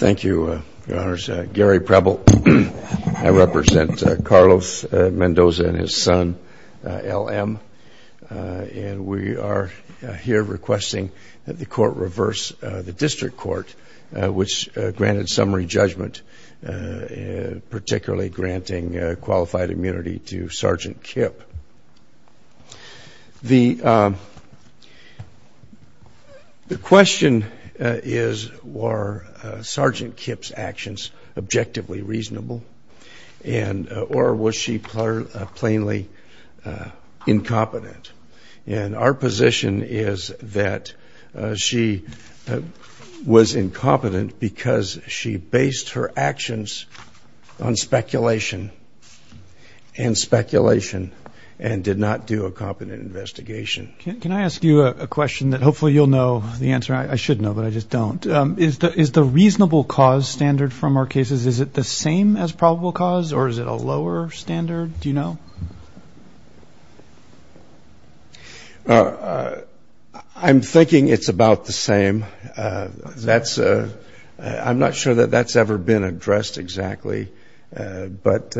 Thank you, Your Honours. Gary Preble. I represent Carlos Mendoza and his son L.M. and we are here requesting that the court reverse the district court which granted summary judgment, particularly granting qualified immunity to Sergeant Kipp. The question is were Sergeant Kipp's actions objectively reasonable and or was she plainly incompetent and our position is that she was incompetent because she based her actions on speculation and speculation and did not do a competent investigation. Can I ask you a question that hopefully you'll know the answer I should know but I just don't. Is the is the reasonable cause standard from our cases is it the same as probable cause or is it a lower standard? Do you know? I'm thinking it's about the same that's a I'm not sure that that's ever been addressed exactly but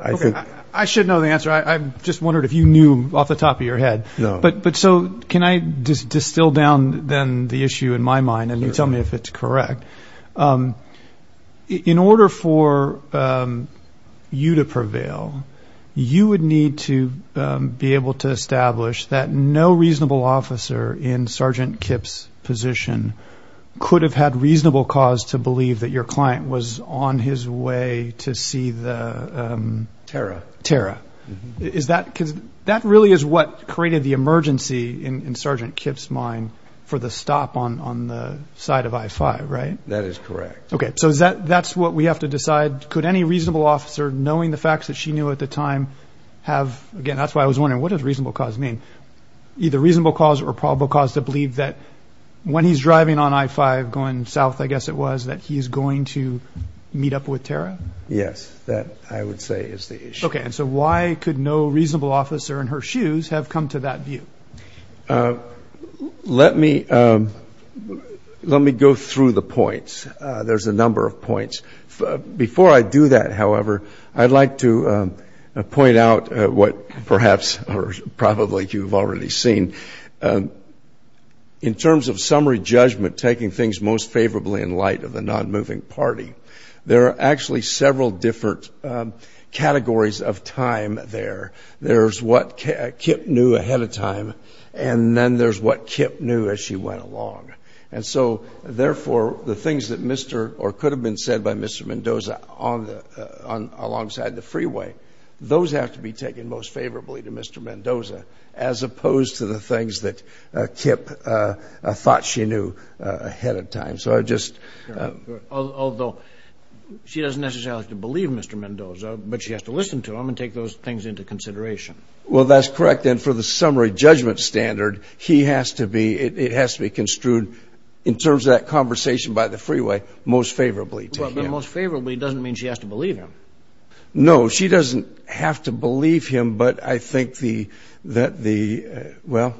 I think I should know the answer I just wondered if you knew off the top of your head no but but so can I just distill down then the issue in my mind and you tell me if it's correct. In order for you to prevail you would need to be able to establish that no reasonable officer in Sergeant Kipp's position could have had reasonable cause to believe that your client was on his way to see the Tara Tara is that because that really is what created the emergency in Sergeant Kipp's mind for the stop on on the side of I-5 right? That is correct. Okay so is that that's what we have to decide could any reasonable officer knowing the facts that she knew at the time have again that's why I was wondering what does reasonable cause mean? Either reasonable cause or probable cause to believe that when he's driving on I-5 going south I guess it was that he is going to meet up with Tara? Yes that I would say is the issue. Okay and so why could no reasonable officer in her shoes have come to that view? Let me let me go through the points there's a number of points before I do that however I'd like to point out what perhaps or probably you've already seen in terms of summary judgment taking things most favorably in light of the non-moving party there are actually several different categories of time there there's what Kipp knew ahead of time and then there's what Kipp knew as she went along and so therefore the things that Mr. or could have been said by Mr. Mendoza on the on alongside the freeway those have to be taken most favorably to Mr. Mendoza as opposed to the things that Kipp thought she knew ahead of time so I just although she doesn't necessarily believe Mr. Mendoza but she has to listen to him and take those things into consideration. Well that's correct then for the summary judgment standard he has to be it has to be construed in terms of that freeway most favorably. Most favorably doesn't mean she has to believe him. No she doesn't have to believe him but I think the that the well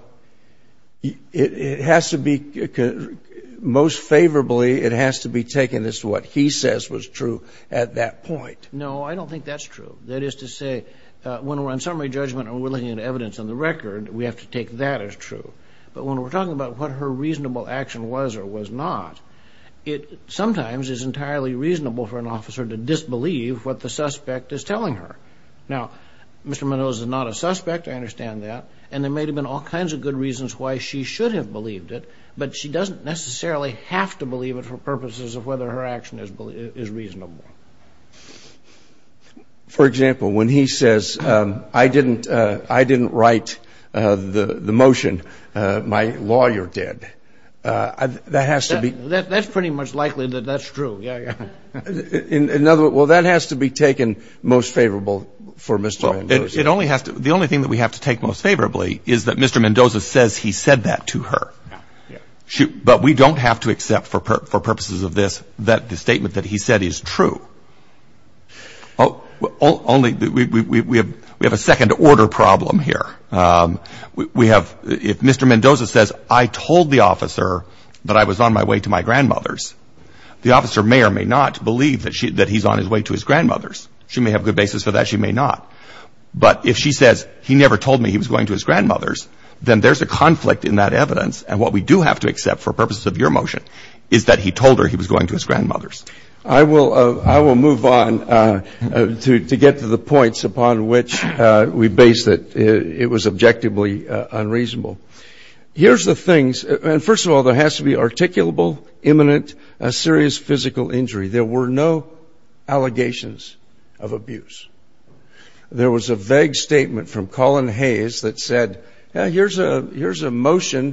it has to be most favorably it has to be taken as to what he says was true at that point. No I don't think that's true that is to say when we're on summary judgment and we're looking at evidence on the record we have to take that as true but when we're not it sometimes is entirely reasonable for an officer to disbelieve what the suspect is telling her. Now Mr. Mendoza is not a suspect I understand that and there may have been all kinds of good reasons why she should have believed it but she doesn't necessarily have to believe it for purposes of whether her action is believable is reasonable. For example when he says I didn't I didn't write the the motion my lawyer did that has to be. That's pretty much likely that that's true yeah. In another well that has to be taken most favorable for Mr. Mendoza. It only has to the only thing that we have to take most favorably is that Mr. Mendoza says he said that to her. Yeah. But we don't have to accept for purposes of this that the statement that he said is true. Oh only we have we have a second-order problem here. We have if Mr. Mendoza says I told the officer that I was on my way to my grandmother's the officer may or may not believe that she that he's on his way to his grandmother's. She may have good basis for that she may not but if she says he never told me he was going to his grandmother's then there's a conflict in that evidence and what we do have to accept for purposes of your motion is that he told her he was going to his mother's. I will I will move on to get to the points upon which we base that it was objectively unreasonable. Here's the things and first of all there has to be articulable, imminent, a serious physical injury. There were no allegations of abuse. There was a vague statement from Colin Hayes that said here's a here's a because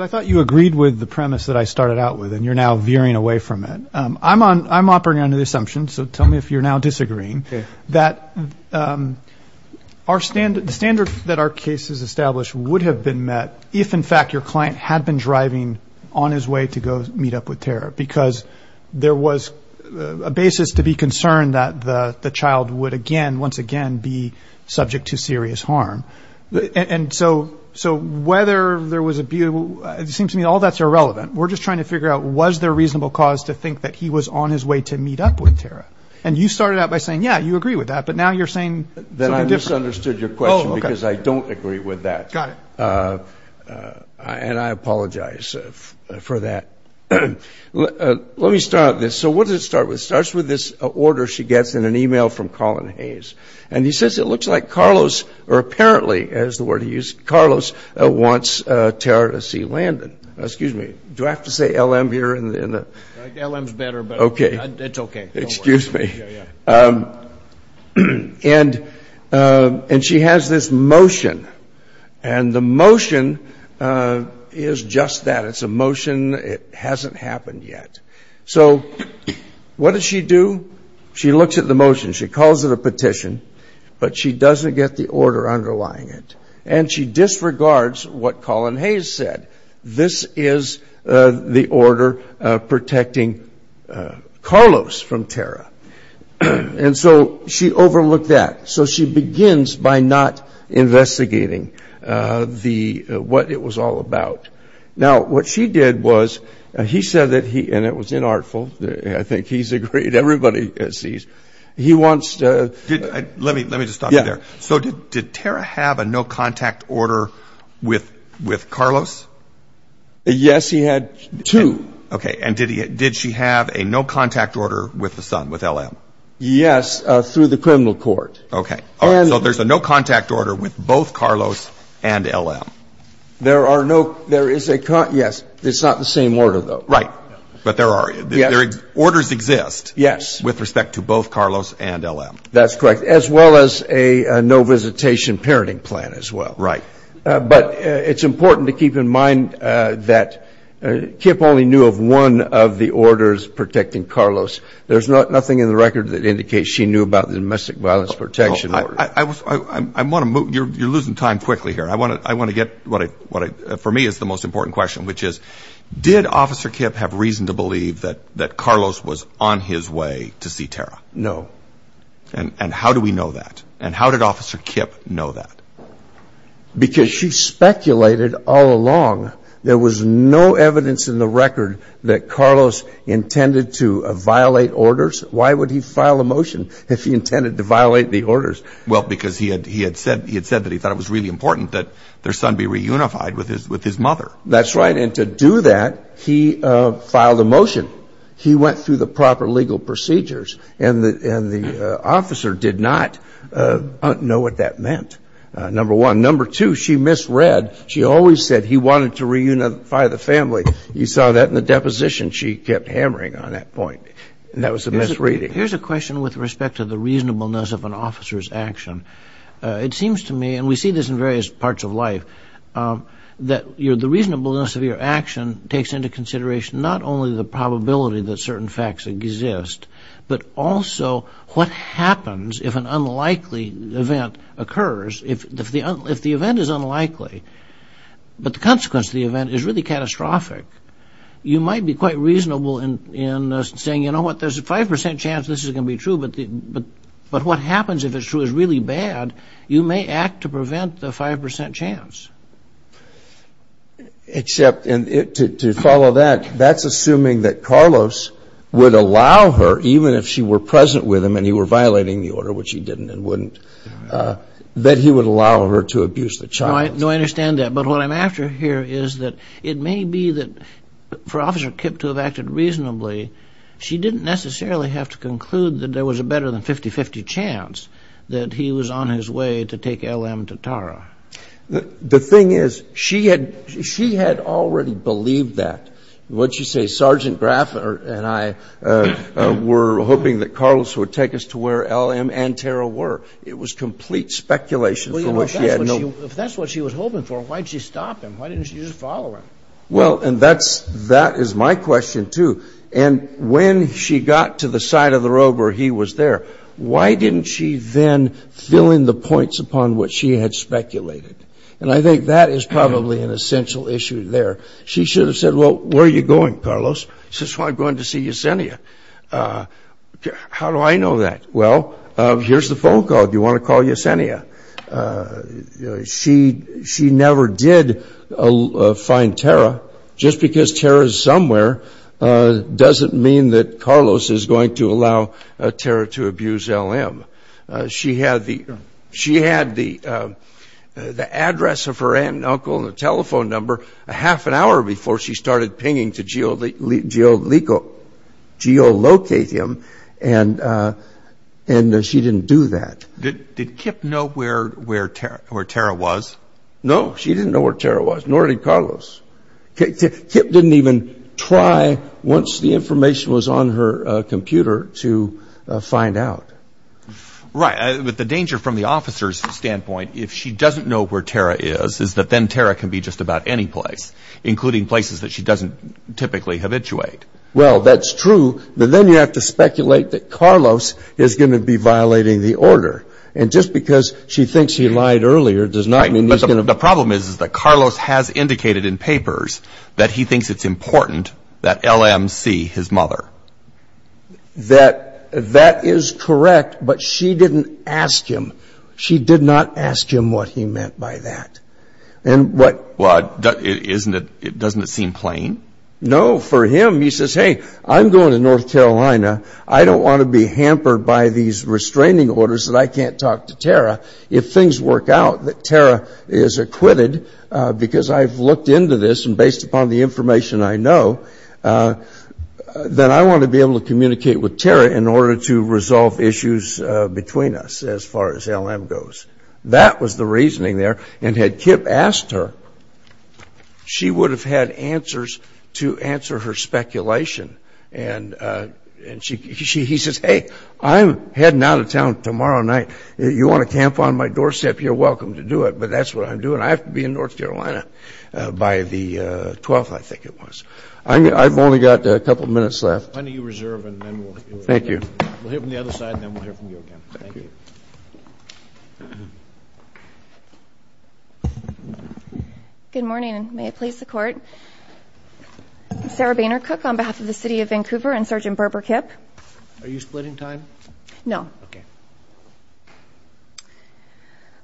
I thought you agreed with the premise that I started out with and you're now veering away from it. I'm on I'm operating under the assumption so tell me if you're now disagreeing that our standard standard that our case is established would have been met if in fact your client had been driving on his way to go meet up with Tara because there was a basis to be concerned that the the child would again once again be subject to serious harm and so so whether there was a beautiful it seems to me all that's irrelevant we're just trying to figure out was there reasonable cause to think that he was on his way to meet up with Tara and you started out by saying yeah you agree with that but now you're saying that I misunderstood your question because I don't agree with that. Got it. And I apologize for that. Let me start this so what does it start with starts with this order she gets in an email from Colin Hayes and he says it looks like Carlos or apparently as the word he used Carlos wants Tara to see Landon excuse me do I have to say LM here and then okay it's okay excuse me and and she has this motion and the motion is just that it's a motion it hasn't happened yet so what does she do she looks at the motion she calls it a petition but she doesn't get the order underlying it and she disregards what Colin Hayes said this is the order protecting Carlos from Tara and so she overlooked that so she begins by not investigating the what it was all about now what she did was he said that he and it was inartful I think he's agreed everybody sees he wants to let me let me just stop you there so did Tara have a no contact order with with Carlos yes he had two okay and did he did she have a no contact order with the son with LM yes through the criminal court okay so there's a no contact order with both Carlos and LM there are no there is a cut yes it's not the same order though right but there are yeah orders exist yes with respect to both Carlos and LM that's correct as well as a no visitation parenting plan as well right but it's important to keep in mind that Kip only knew of one of the orders protecting Carlos there's not nothing in the record that indicates she knew about the domestic violence protection I want to move you're losing time quickly here I want to I want to get what I what I for me is the most important question which is did officer Kip have reason to believe that that Carlos was on his way to see Tara no and and how do we know that and how did officer Kip know that because she speculated all along there was no evidence in the record that Carlos intended to violate orders why would he file a motion if he intended to violate the orders well because he had he had said he had said that he thought it was really important that their son be reunified with his with his mother that's right and to do that he filed a motion he went through the proper legal procedures and the and the officer did not know what that meant number one number two she misread she always said he wanted to reunify the family you saw that in the deposition she kept hammering on that point and that was a misreading here's a question with respect to the reasonableness of an officer's action it seems to me and we see this in various parts of life that you're the reasonableness of your action takes into consideration not only the probability that certain facts exist but also what happens if an unlikely event occurs if the if the event is unlikely but the consequence of the event is really catastrophic you might be quite reasonable in in saying you know what there's a 5% chance this is gonna be true but the but but what happens if it's true is really bad you may act to prevent the 5% chance except in it to follow that that's assuming that Carlos would allow her even if she were present with him and he were violating the order which he didn't and wouldn't that he would allow her to abuse the child I don't understand that but what I'm after here is that it may be that for officer Kip to have acted reasonably she didn't necessarily have to conclude that there was a better than 50-50 chance that he was on his way to take LM to Tara the thing is she had she had already believed that what you say sergeant and I were hoping that Carlos would take us to where LM and Tara were it was complete speculation if that's what she was hoping for why'd she stop him why didn't you just follow her well and that's that is my question too and when she got to the side of the road where he was there why didn't she then fill in the points upon what she had speculated and I think that is probably an essential issue there she should have said well where are you going Carlos just want to go in to see you Yessenia how do I know that well here's the phone call do you want to call Yessenia she she never did a find Tara just because Tara is somewhere doesn't mean that Carlos is going to allow Tara to abuse LM she had the she had the the address of her aunt and uncle the telephone number a half an hour before she started pinging to geolocate him and and she didn't do that did Kip know where where Tara was no she didn't know where Tara was nor did Carlos Kip didn't even try once the information was on her computer to find out right with the danger from the officer's standpoint if she doesn't know where Tara is is that then Tara can be just about any place including places that she doesn't typically have ituate well that's true but then you have to speculate that Carlos is going to be violating the order and just because she thinks he lied earlier does not mean he's gonna the problem is is that Carlos has indicated in papers that he thinks it's that that is correct but she didn't ask him she did not ask him what he meant by that and what isn't it it doesn't seem plain no for him he says hey I'm going to North Carolina I don't want to be hampered by these restraining orders that I can't talk to Tara if things work out that Tara is acquitted because I've been I want to be able to communicate with Tara in order to resolve issues between us as far as LM goes that was the reasoning there and had Kip asked her she would have had answers to answer her speculation and and she he says hey I'm heading out of town tomorrow night you want to camp on my doorstep you're welcome to do it but that's what I'm doing I have to be in North Carolina by the 12th I think it was I've only got a couple minutes left thank you good morning and may it please the court Sarah Boehner cook on behalf of the city of Vancouver and sergeant Berber Kip are you splitting time no okay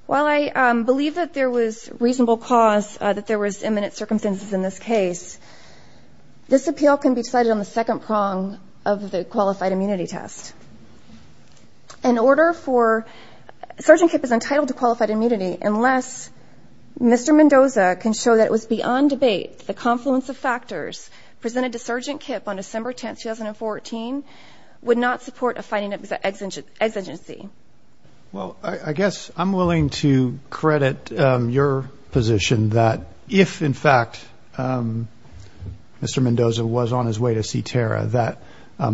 well I believe that there was reasonable cause that there was imminent circumstances in this case this appeal can be decided on the second prong of the qualified immunity test in order for sergeant Kip is entitled to qualified immunity unless mr. Mendoza can show that it was beyond debate the confluence of factors presented to sergeant Kip on December 10th 2014 would not support a fighting exigency well I guess I'm willing to credit your position that if in fact mr. Mendoza was on his way to see Tara that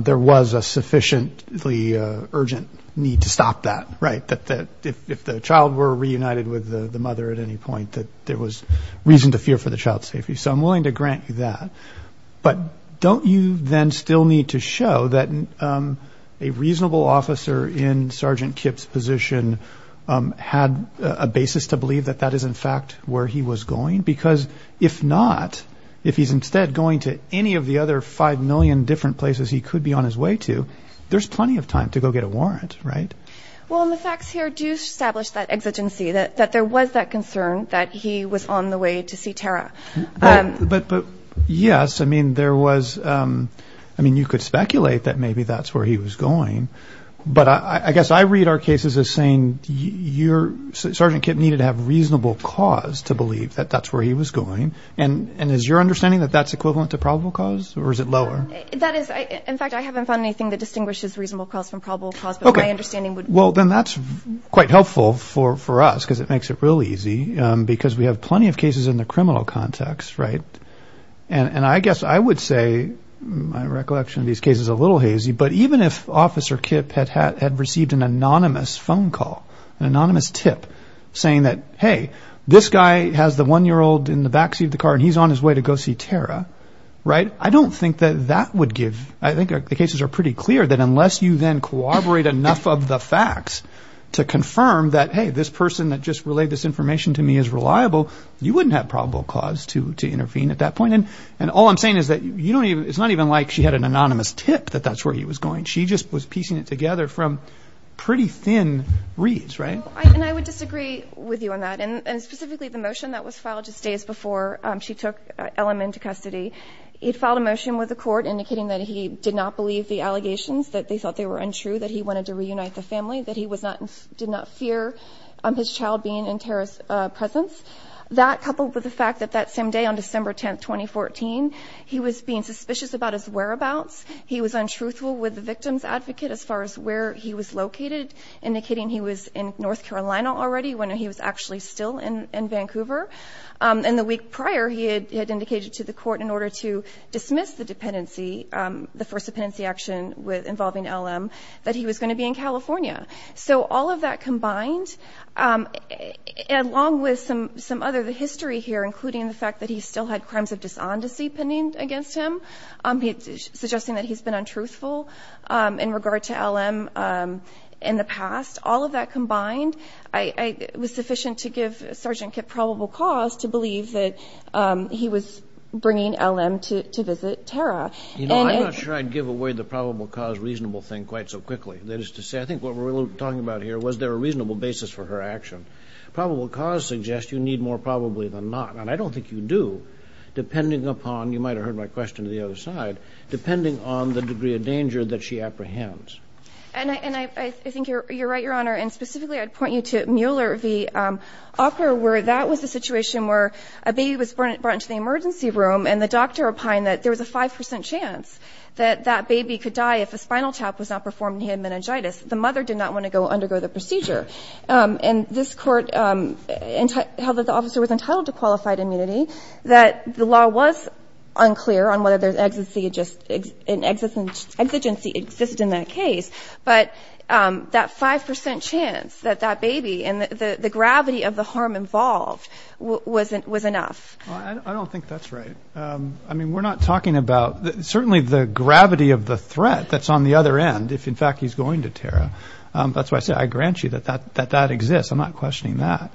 there was a sufficiently urgent need to stop that right that that if the child were reunited with the mother at any point that there was reason to fear for the child's safety so I'm willing to officer in sergeant Kip's position had a basis to believe that that is in fact where he was going because if not if he's instead going to any of the other five million different places he could be on his way to there's plenty of time to go get a warrant right well the facts here do establish that exigency that that there was that concern that he was on the way to see Tara but but yes I mean there was I mean you could speculate that maybe that's where he was going but I guess I read our cases as saying you're sergeant Kip needed to have reasonable cause to believe that that's where he was going and and as your understanding that that's equivalent to probable cause or is it lower that is I in fact I haven't found anything that distinguishes reasonable calls from probable cause but my understanding would well then that's quite helpful for for us because it makes it real easy because we have plenty of cases in the criminal context right and and I guess I would say my officer Kip had had had received an anonymous phone call an anonymous tip saying that hey this guy has the one-year-old in the backseat of the car and he's on his way to go see Tara right I don't think that that would give I think the cases are pretty clear that unless you then corroborate enough of the facts to confirm that hey this person that just relayed this information to me is reliable you wouldn't have probable cause to to intervene at that point and and all I'm saying is that you don't even it's not even like she had an anonymous tip that that's where he was going she just was piecing it together from pretty thin reads right and I would disagree with you on that and specifically the motion that was filed just days before she took LM into custody it filed a motion with the court indicating that he did not believe the allegations that they thought they were untrue that he wanted to reunite the family that he was not did not fear his child being in Tara's presence that coupled with the fact that that same day on December 10th 2014 he was being suspicious about his whereabouts he was untruthful with the as far as where he was located indicating he was in North Carolina already when he was actually still in Vancouver and the week prior he had indicated to the court in order to dismiss the dependency the first dependency action with involving LM that he was going to be in California so all of that combined along with some some other the history here including the fact that he still had crimes of dishonesty pending against him suggesting that he's been untruthful in regard to LM in the past all of that combined I was sufficient to give sergeant Kip probable cause to believe that he was bringing LM to visit Tara you know I'm not sure I'd give away the probable cause reasonable thing quite so quickly that is to say I think what we're talking about here was there a reasonable basis for her action probable cause suggests you need more probably than not and I don't think you do depending upon you might have heard my question to the other side depending on the degree of danger that she apprehends and I think you're right your honor and specifically I'd point you to Mueller the offer where that was the situation where a baby was brought into the emergency room and the doctor opined that there was a 5% chance that that baby could die if a spinal tap was not performed he had meningitis the mother did not want to go undergo the procedure and this court and how that the officer was entitled to qualified immunity that the law was unclear on whether there's exigency exist in that case but that 5% chance that that baby and the the gravity of the harm involved wasn't was enough I mean we're not talking about certainly the gravity of the threat that's on the other end if in fact he's going to Tara that's why I said I grant you that that that that exists I'm not questioning that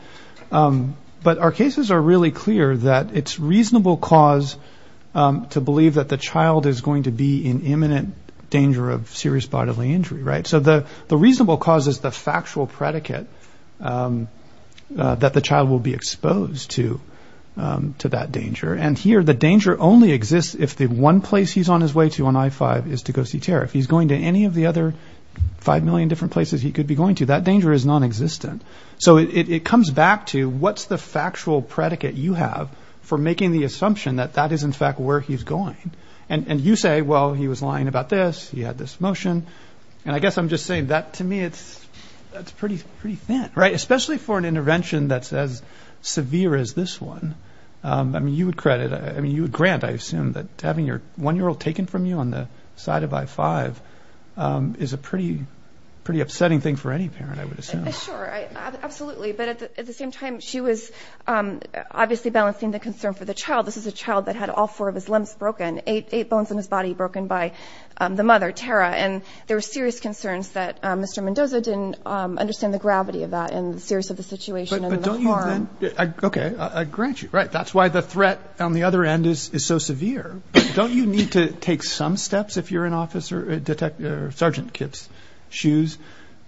but our cases are really clear that it's reasonable cause to believe that the child is going to be in imminent danger of serious bodily injury right so the the reasonable cause is the factual predicate that the child will be exposed to to that danger and here the danger only exists if the one place he's on his way to on I-5 is to go see Tara if he's going to any of the other five million different places he could be going to that danger is non-existent so it comes back to what's the factual predicate you have for making the assumption that that is in fact where he's going and and you say well he was lying about this he had this motion and I guess I'm just saying that to me it's that's pretty pretty thin right especially for an intervention that's as severe as this one I mean you would credit I mean you grant I assume that having your one-year-old taken from you on the side of I-5 is a pretty pretty upsetting thing for any parent I was obviously balancing the concern for the child this is a child that had all four of his limbs broken eight eight bones in his body broken by the mother Tara and there were serious concerns that mr. Mendoza didn't understand the gravity of that and serious of the situation okay I grant you right that's why the threat on the other end is so severe don't you need to take some steps if you're an officer detective sergeant Kip's shoes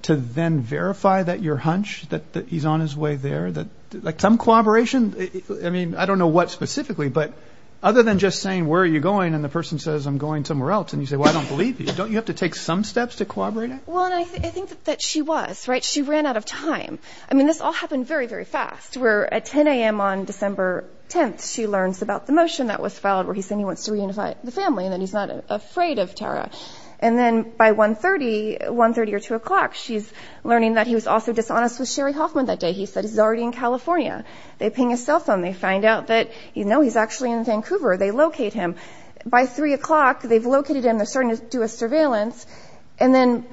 to then verify that your there that like some collaboration I mean I don't know what specifically but other than just saying where are you going and the person says I'm going somewhere else and you say well I don't believe you don't you have to take some steps to corroborate well I think that she was right she ran out of time I mean this all happened very very fast we're at 10 a.m. on December 10th she learns about the motion that was filed where he said he wants to reunify the family and then he's not afraid of Tara and then by 131 30 or 2 o'clock she's learning that he was also dishonest with Sherry Hoffman that day he said he's already in California they ping a cell phone they find out that you know he's actually in Vancouver they locate him by 3 o'clock they've located him they're starting to do a surveillance and then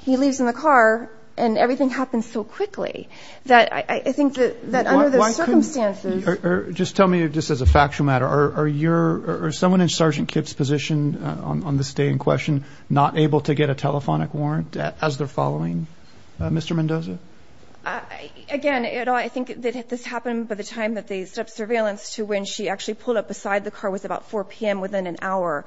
he leaves in the car and everything happens so quickly that I think that just tell me just as a factual matter are you're or someone in sergeant Kip's position on this day in question not able to get a Mendoza again I think that this happened by the time that they set up surveillance to when she actually pulled up beside the car was about 4 p.m. within an hour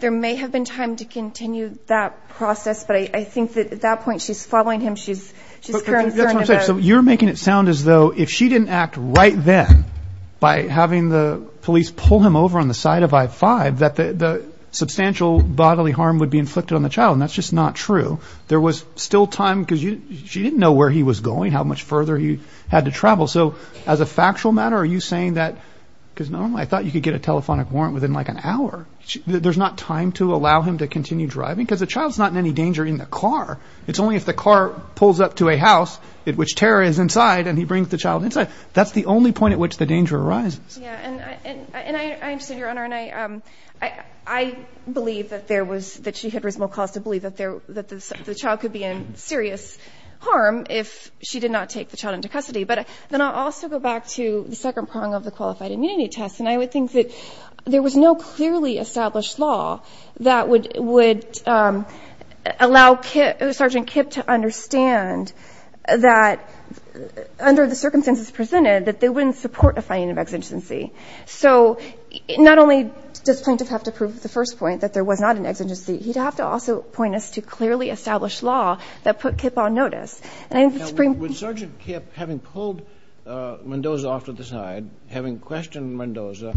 there may have been time to continue that process but I think that at that point she's following him she's so you're making it sound as though if she didn't act right then by having the police pull him over on the side of i-5 that the substantial bodily harm would be inflicted on the child that's just not true there was still time because you didn't know where he was going how much further he had to travel so as a factual matter are you saying that because normally I thought you could get a telephonic warrant within like an hour there's not time to allow him to continue driving because the child's not in any danger in the car it's only if the car pulls up to a house it which terror is inside and he brings the child inside that's the only point at which the danger arises I believe that there was that she had reasonable cause to there that the child could be in serious harm if she did not take the child into custody but then I'll also go back to the second prong of the qualified immunity test and I would think that there was no clearly established law that would would allow kit Sergeant Kip to understand that under the circumstances presented that they wouldn't support a finding of exigency so not only does plaintiff have to prove the first point that there was not an exigency he'd have to also point us to clearly established law that put Kip on notice having pulled Mendoza off to the side having questioned Mendoza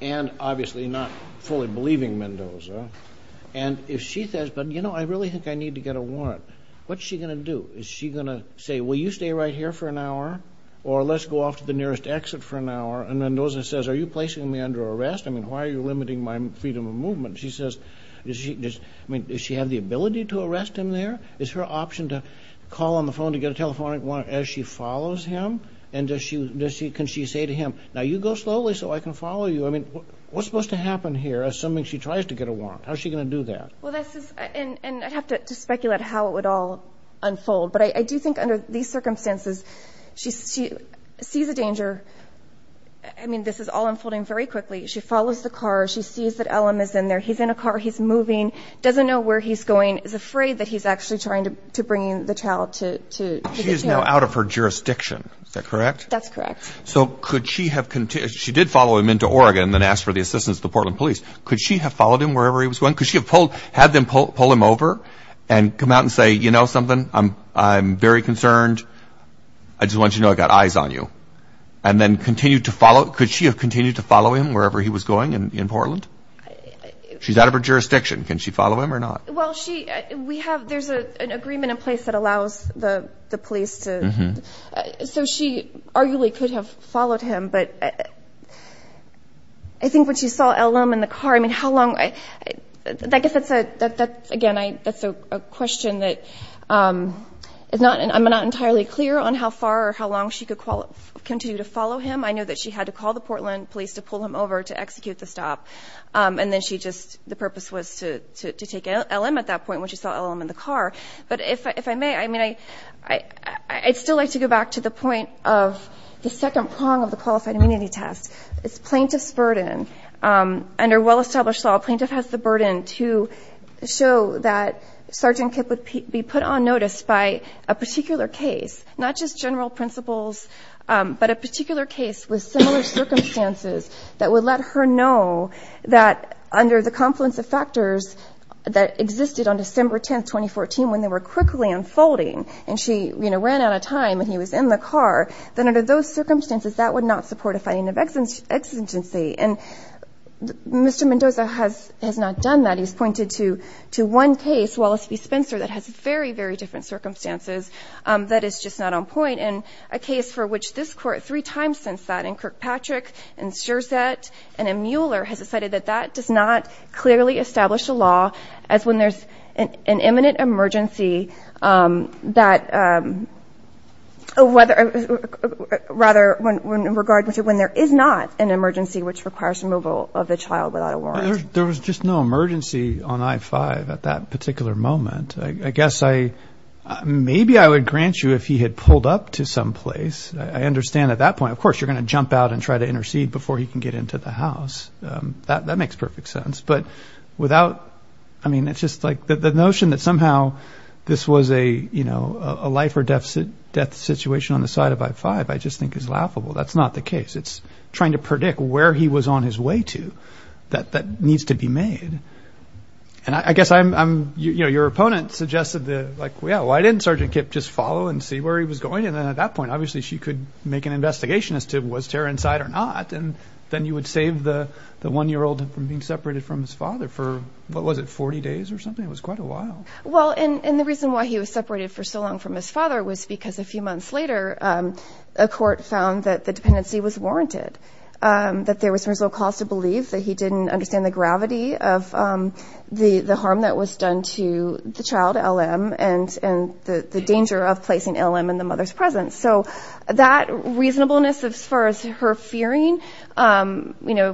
and obviously not fully believing Mendoza and if she says but you know I really think I need to get a warrant what's she gonna do is she gonna say well you stay right here for an hour or let's go off to the nearest exit for an hour and Mendoza says are you placing me under arrest I mean why are you limiting my freedom of movement she says I mean does she have the ability to arrest him there is her option to call on the phone to get a telephonic one as she follows him and does she can she say to him now you go slowly so I can follow you I mean what's supposed to happen here assuming she tries to get a warrant how's she gonna do that well this is and I'd have to speculate how it would all unfold but I do think under these circumstances she sees a danger I mean this is all he's in a car he's moving doesn't know where he's going is afraid that he's actually trying to bring the child to she is now out of her jurisdiction is that correct that's correct so could she have continued she did follow him into Oregon then asked for the assistance the Portland police could she have followed him wherever he was going because she had pulled had them pull him over and come out and say you know something I'm I'm very concerned I just want you to know I got eyes on you and then continue to follow could she have continued to she's out of her jurisdiction can she follow him or not well she we have there's a an agreement in place that allows the police to so she arguably could have followed him but I think when she saw LM in the car I mean how long I guess it's a that that again I that's a question that it's not and I'm not entirely clear on how far or how long she could call it continue to follow him I know that she had to call the Portland police to pull him over to execute the stop and then she just the purpose was to take LM at that point when she saw LM in the car but if I may I mean I I'd still like to go back to the point of the second prong of the qualified immunity test it's plaintiffs burden under well-established law plaintiff has the burden to show that sergeant could be put on notice by a particular case not just general principles but a that under the confluence of factors that existed on December 10th 2014 when they were quickly unfolding and she you know ran out of time and he was in the car then under those circumstances that would not support a fighting of exigence exigency and mr. Mendoza has has not done that he's pointed to to one case Wallace v Spencer that has very very different circumstances that is just not on point in a case for which this court three times since that in Kirkpatrick and sure set and a Mueller has decided that that does not clearly establish a law as when there's an imminent emergency that whether rather when in regard with you when there is not an emergency which requires removal of the child without a warrant there was just no emergency on i-5 at that particular moment I guess I maybe I would grant you if he had pulled up to some place I understand at that point of course you're gonna jump out and try to intercede before you can get into the house that makes perfect sense but without I mean it's just like the notion that somehow this was a you know a life or death death situation on the side of i-5 I just think is laughable that's not the case it's trying to predict where he was on his way to that that needs to be made and I guess I'm I'm you know your opponent suggested the like obviously she could make an investigation as to was terror inside or not and then you would save the the one-year-old from being separated from his father for what was it 40 days or something it was quite a while well and and the reason why he was separated for so long from his father was because a few months later a court found that the dependency was warranted that there was no cause to believe that he didn't understand the gravity of the the harm that was done to the child LM and and the danger of placing LM in the mother's presence so that reasonableness as far as her fearing you know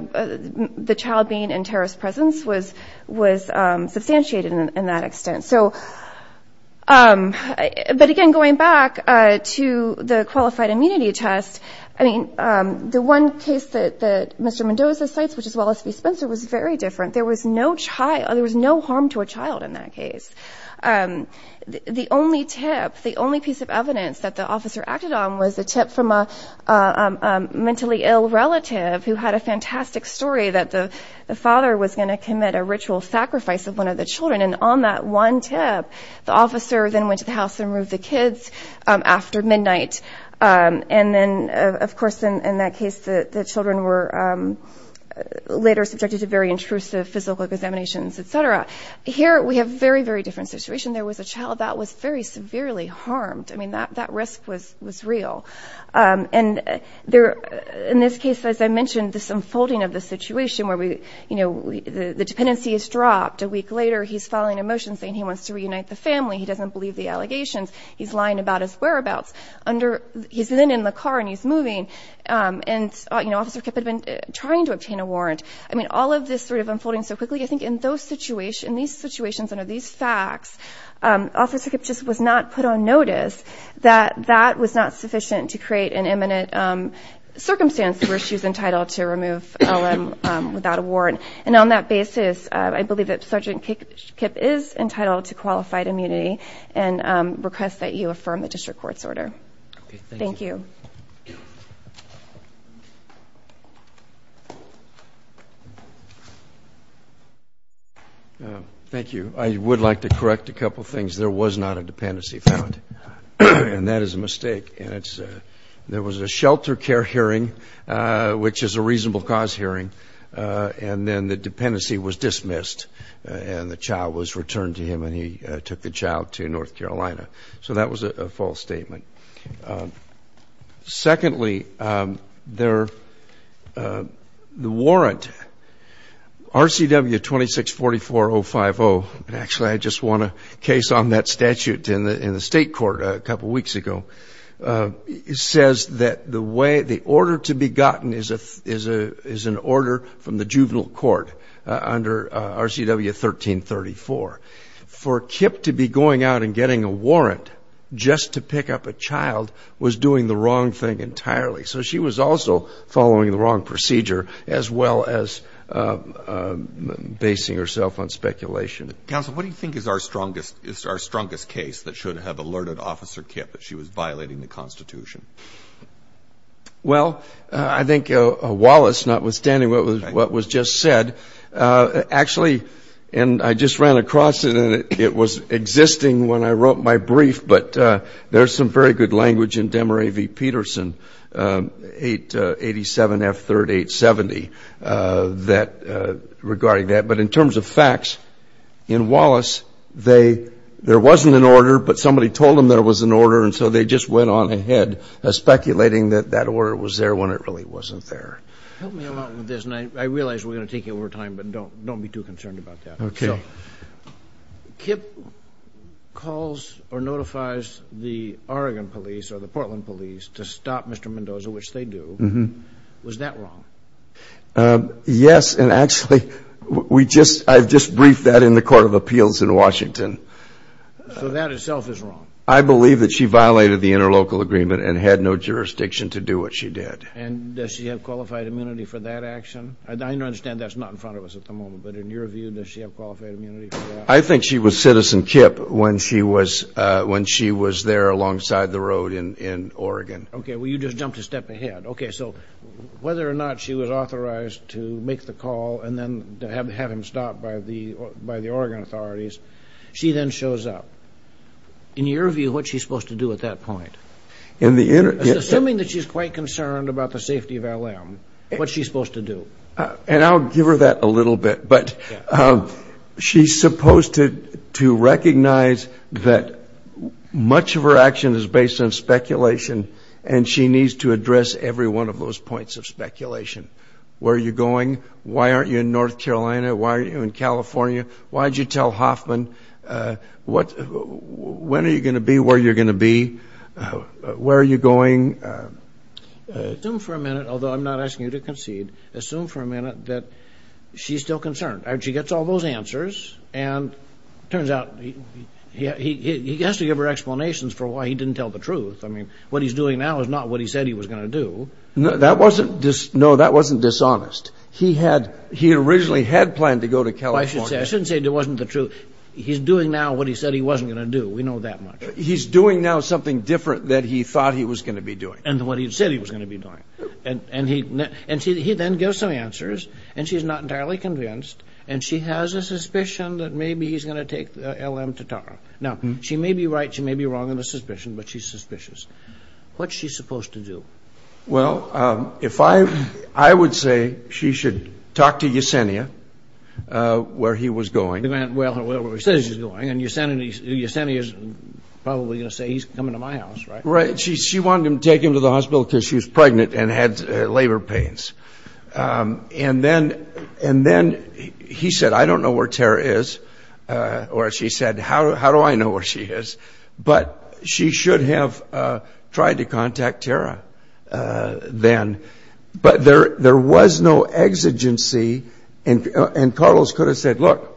the child being in terrorist presence was was substantiated in that extent so but again going back to the qualified immunity test I mean the one case that that mr. Mendoza sites which is Wallace v. Spencer was very different there was no child there was no harm to a child in that case the only tip the only piece of was a tip from a mentally ill relative who had a fantastic story that the father was going to commit a ritual sacrifice of one of the children and on that one tip the officer then went to the house and moved the kids after midnight and then of course in that case the children were later subjected to very intrusive physical examinations etc here we have very very different situation there was a child that was very severely harmed I mean that that was was real and there in this case as I mentioned this unfolding of the situation where we you know the dependency is dropped a week later he's following a motion saying he wants to reunite the family he doesn't believe the allegations he's lying about his whereabouts under he's then in the car and he's moving and you know officer kept have been trying to obtain a warrant I mean all of this sort of unfolding so quickly I think in those situation these situations under these facts officer kept just was not put on that was not sufficient to create an imminent circumstance where she's entitled to remove LM without a warrant and on that basis I believe that sergeant kick tip is entitled to qualified immunity and request that you affirm the district court's order thank you thank you I would like to correct a couple things there was not a dependency and that is a mistake and it's there was a shelter care hearing which is a reasonable cause hearing and then the dependency was dismissed and the child was returned to him and he took the child to North Carolina so that was a false statement secondly there the warrant RCW 26 44 0 5 0 and actually I just want a case on that statute in the in the state court a couple weeks ago it says that the way the order to be gotten is a is a is an order from the juvenile court under RCW 1334 for kip to be going out and getting a warrant just to pick up a child was doing the wrong thing entirely so she was also following the wrong procedure as well as basing herself on speculation council what do you think is our strongest it's our strongest case that should have alerted officer kip that she was violating the Constitution well I think Wallace not withstanding what was what was just said actually and I just ran across it and it was existing when I wrote my brief but there's some very good language in Demeray V Peterson 887 f-38 70 that regarding that but in terms of facts in they there wasn't an order but somebody told him there was an order and so they just went on ahead speculating that that order was there when it really wasn't there I realize we're gonna take you over time but don't don't be too concerned about that okay kip calls or notifies the Oregon police or the Portland police to stop mr. Mendoza which they do mm-hmm was that wrong yes and actually we just I've just briefed that in the Court of Appeals in Washington so that itself is wrong I believe that she violated the interlocal agreement and had no jurisdiction to do what she did and does she have qualified immunity for that action and I understand that's not in front of us at the moment but in your view does she have qualified immunity I think she was citizen kip when she was when she was there alongside the road in in Oregon okay well you just jumped a and then to have to have him stopped by the by the Oregon authorities she then shows up in your view what she's supposed to do at that point in the internet assuming that she's quite concerned about the safety of LM what she's supposed to do and I'll give her that a little bit but she's supposed to to recognize that much of her action is based on speculation and she needs to aren't you in North Carolina why are you in California why did you tell Hoffman what when are you going to be where you're going to be where are you going assume for a minute although I'm not asking you to concede assume for a minute that she's still concerned and she gets all those answers and turns out yeah he has to give her explanations for why he didn't tell the truth I mean what he's doing now is not what he said he was going to do no that wasn't just no that wasn't dishonest he had he originally had planned to go to California I shouldn't say there wasn't the truth he's doing now what he said he wasn't gonna do we know that much he's doing now something different that he thought he was going to be doing and what he said he was going to be doing and and he and she then give some answers and she's not entirely convinced and she has a suspicion that maybe he's gonna take LM to Tara now she may be right she may be wrong in the suspicion but she's suspicious what she's supposed to do well if I I would say she should talk to Yesenia where he was going well he says he's going and you're sending these yesenia's probably gonna say he's coming to my house right she she wanted him to take him to the hospital because she was pregnant and had labor pains and then and then he said I don't know where Tara is or she said how do I know where she is but she should have tried to contact Tara then but there there was no exigency and and Carlos could have said look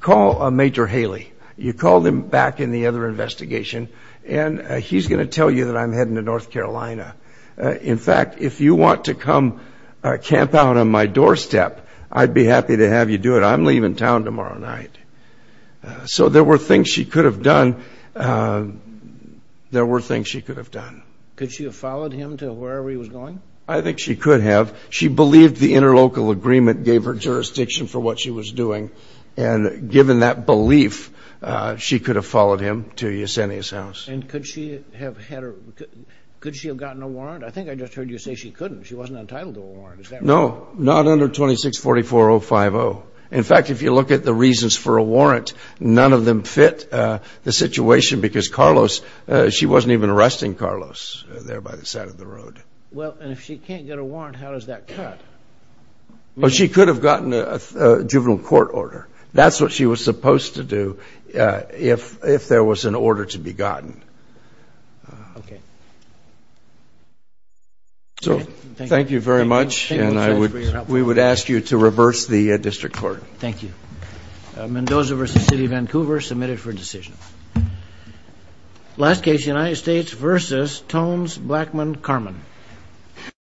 call a major Haley you called him back in the other investigation and he's going to tell you that I'm heading to North Carolina in fact if you want to come camp out on my doorstep I'd be happy to have you do it I'm leaving town tomorrow night so there were things she could have done could she have followed him to wherever he was going I think she could have she believed the interlocal agreement gave her jurisdiction for what she was doing and given that belief she could have followed him to Yesenia's house and could she have had her could she have gotten a warrant I think I just heard you say she couldn't she wasn't entitled to a warrant no not under 26 44050 in fact if you look at the reasons for a warrant none of them fit the situation that she because Carlos she wasn't even arresting Carlos there by the side of the road well and if she can't get a warrant how does that cut well she could have gotten a juvenile court order that's what she was supposed to do if if there was an order to be gotten okay so thank you very much and I would we would ask you to reverse the district court thank you Mendoza versus City of Vancouver submitted for decision last case the United States versus Tones Blackmon Carmen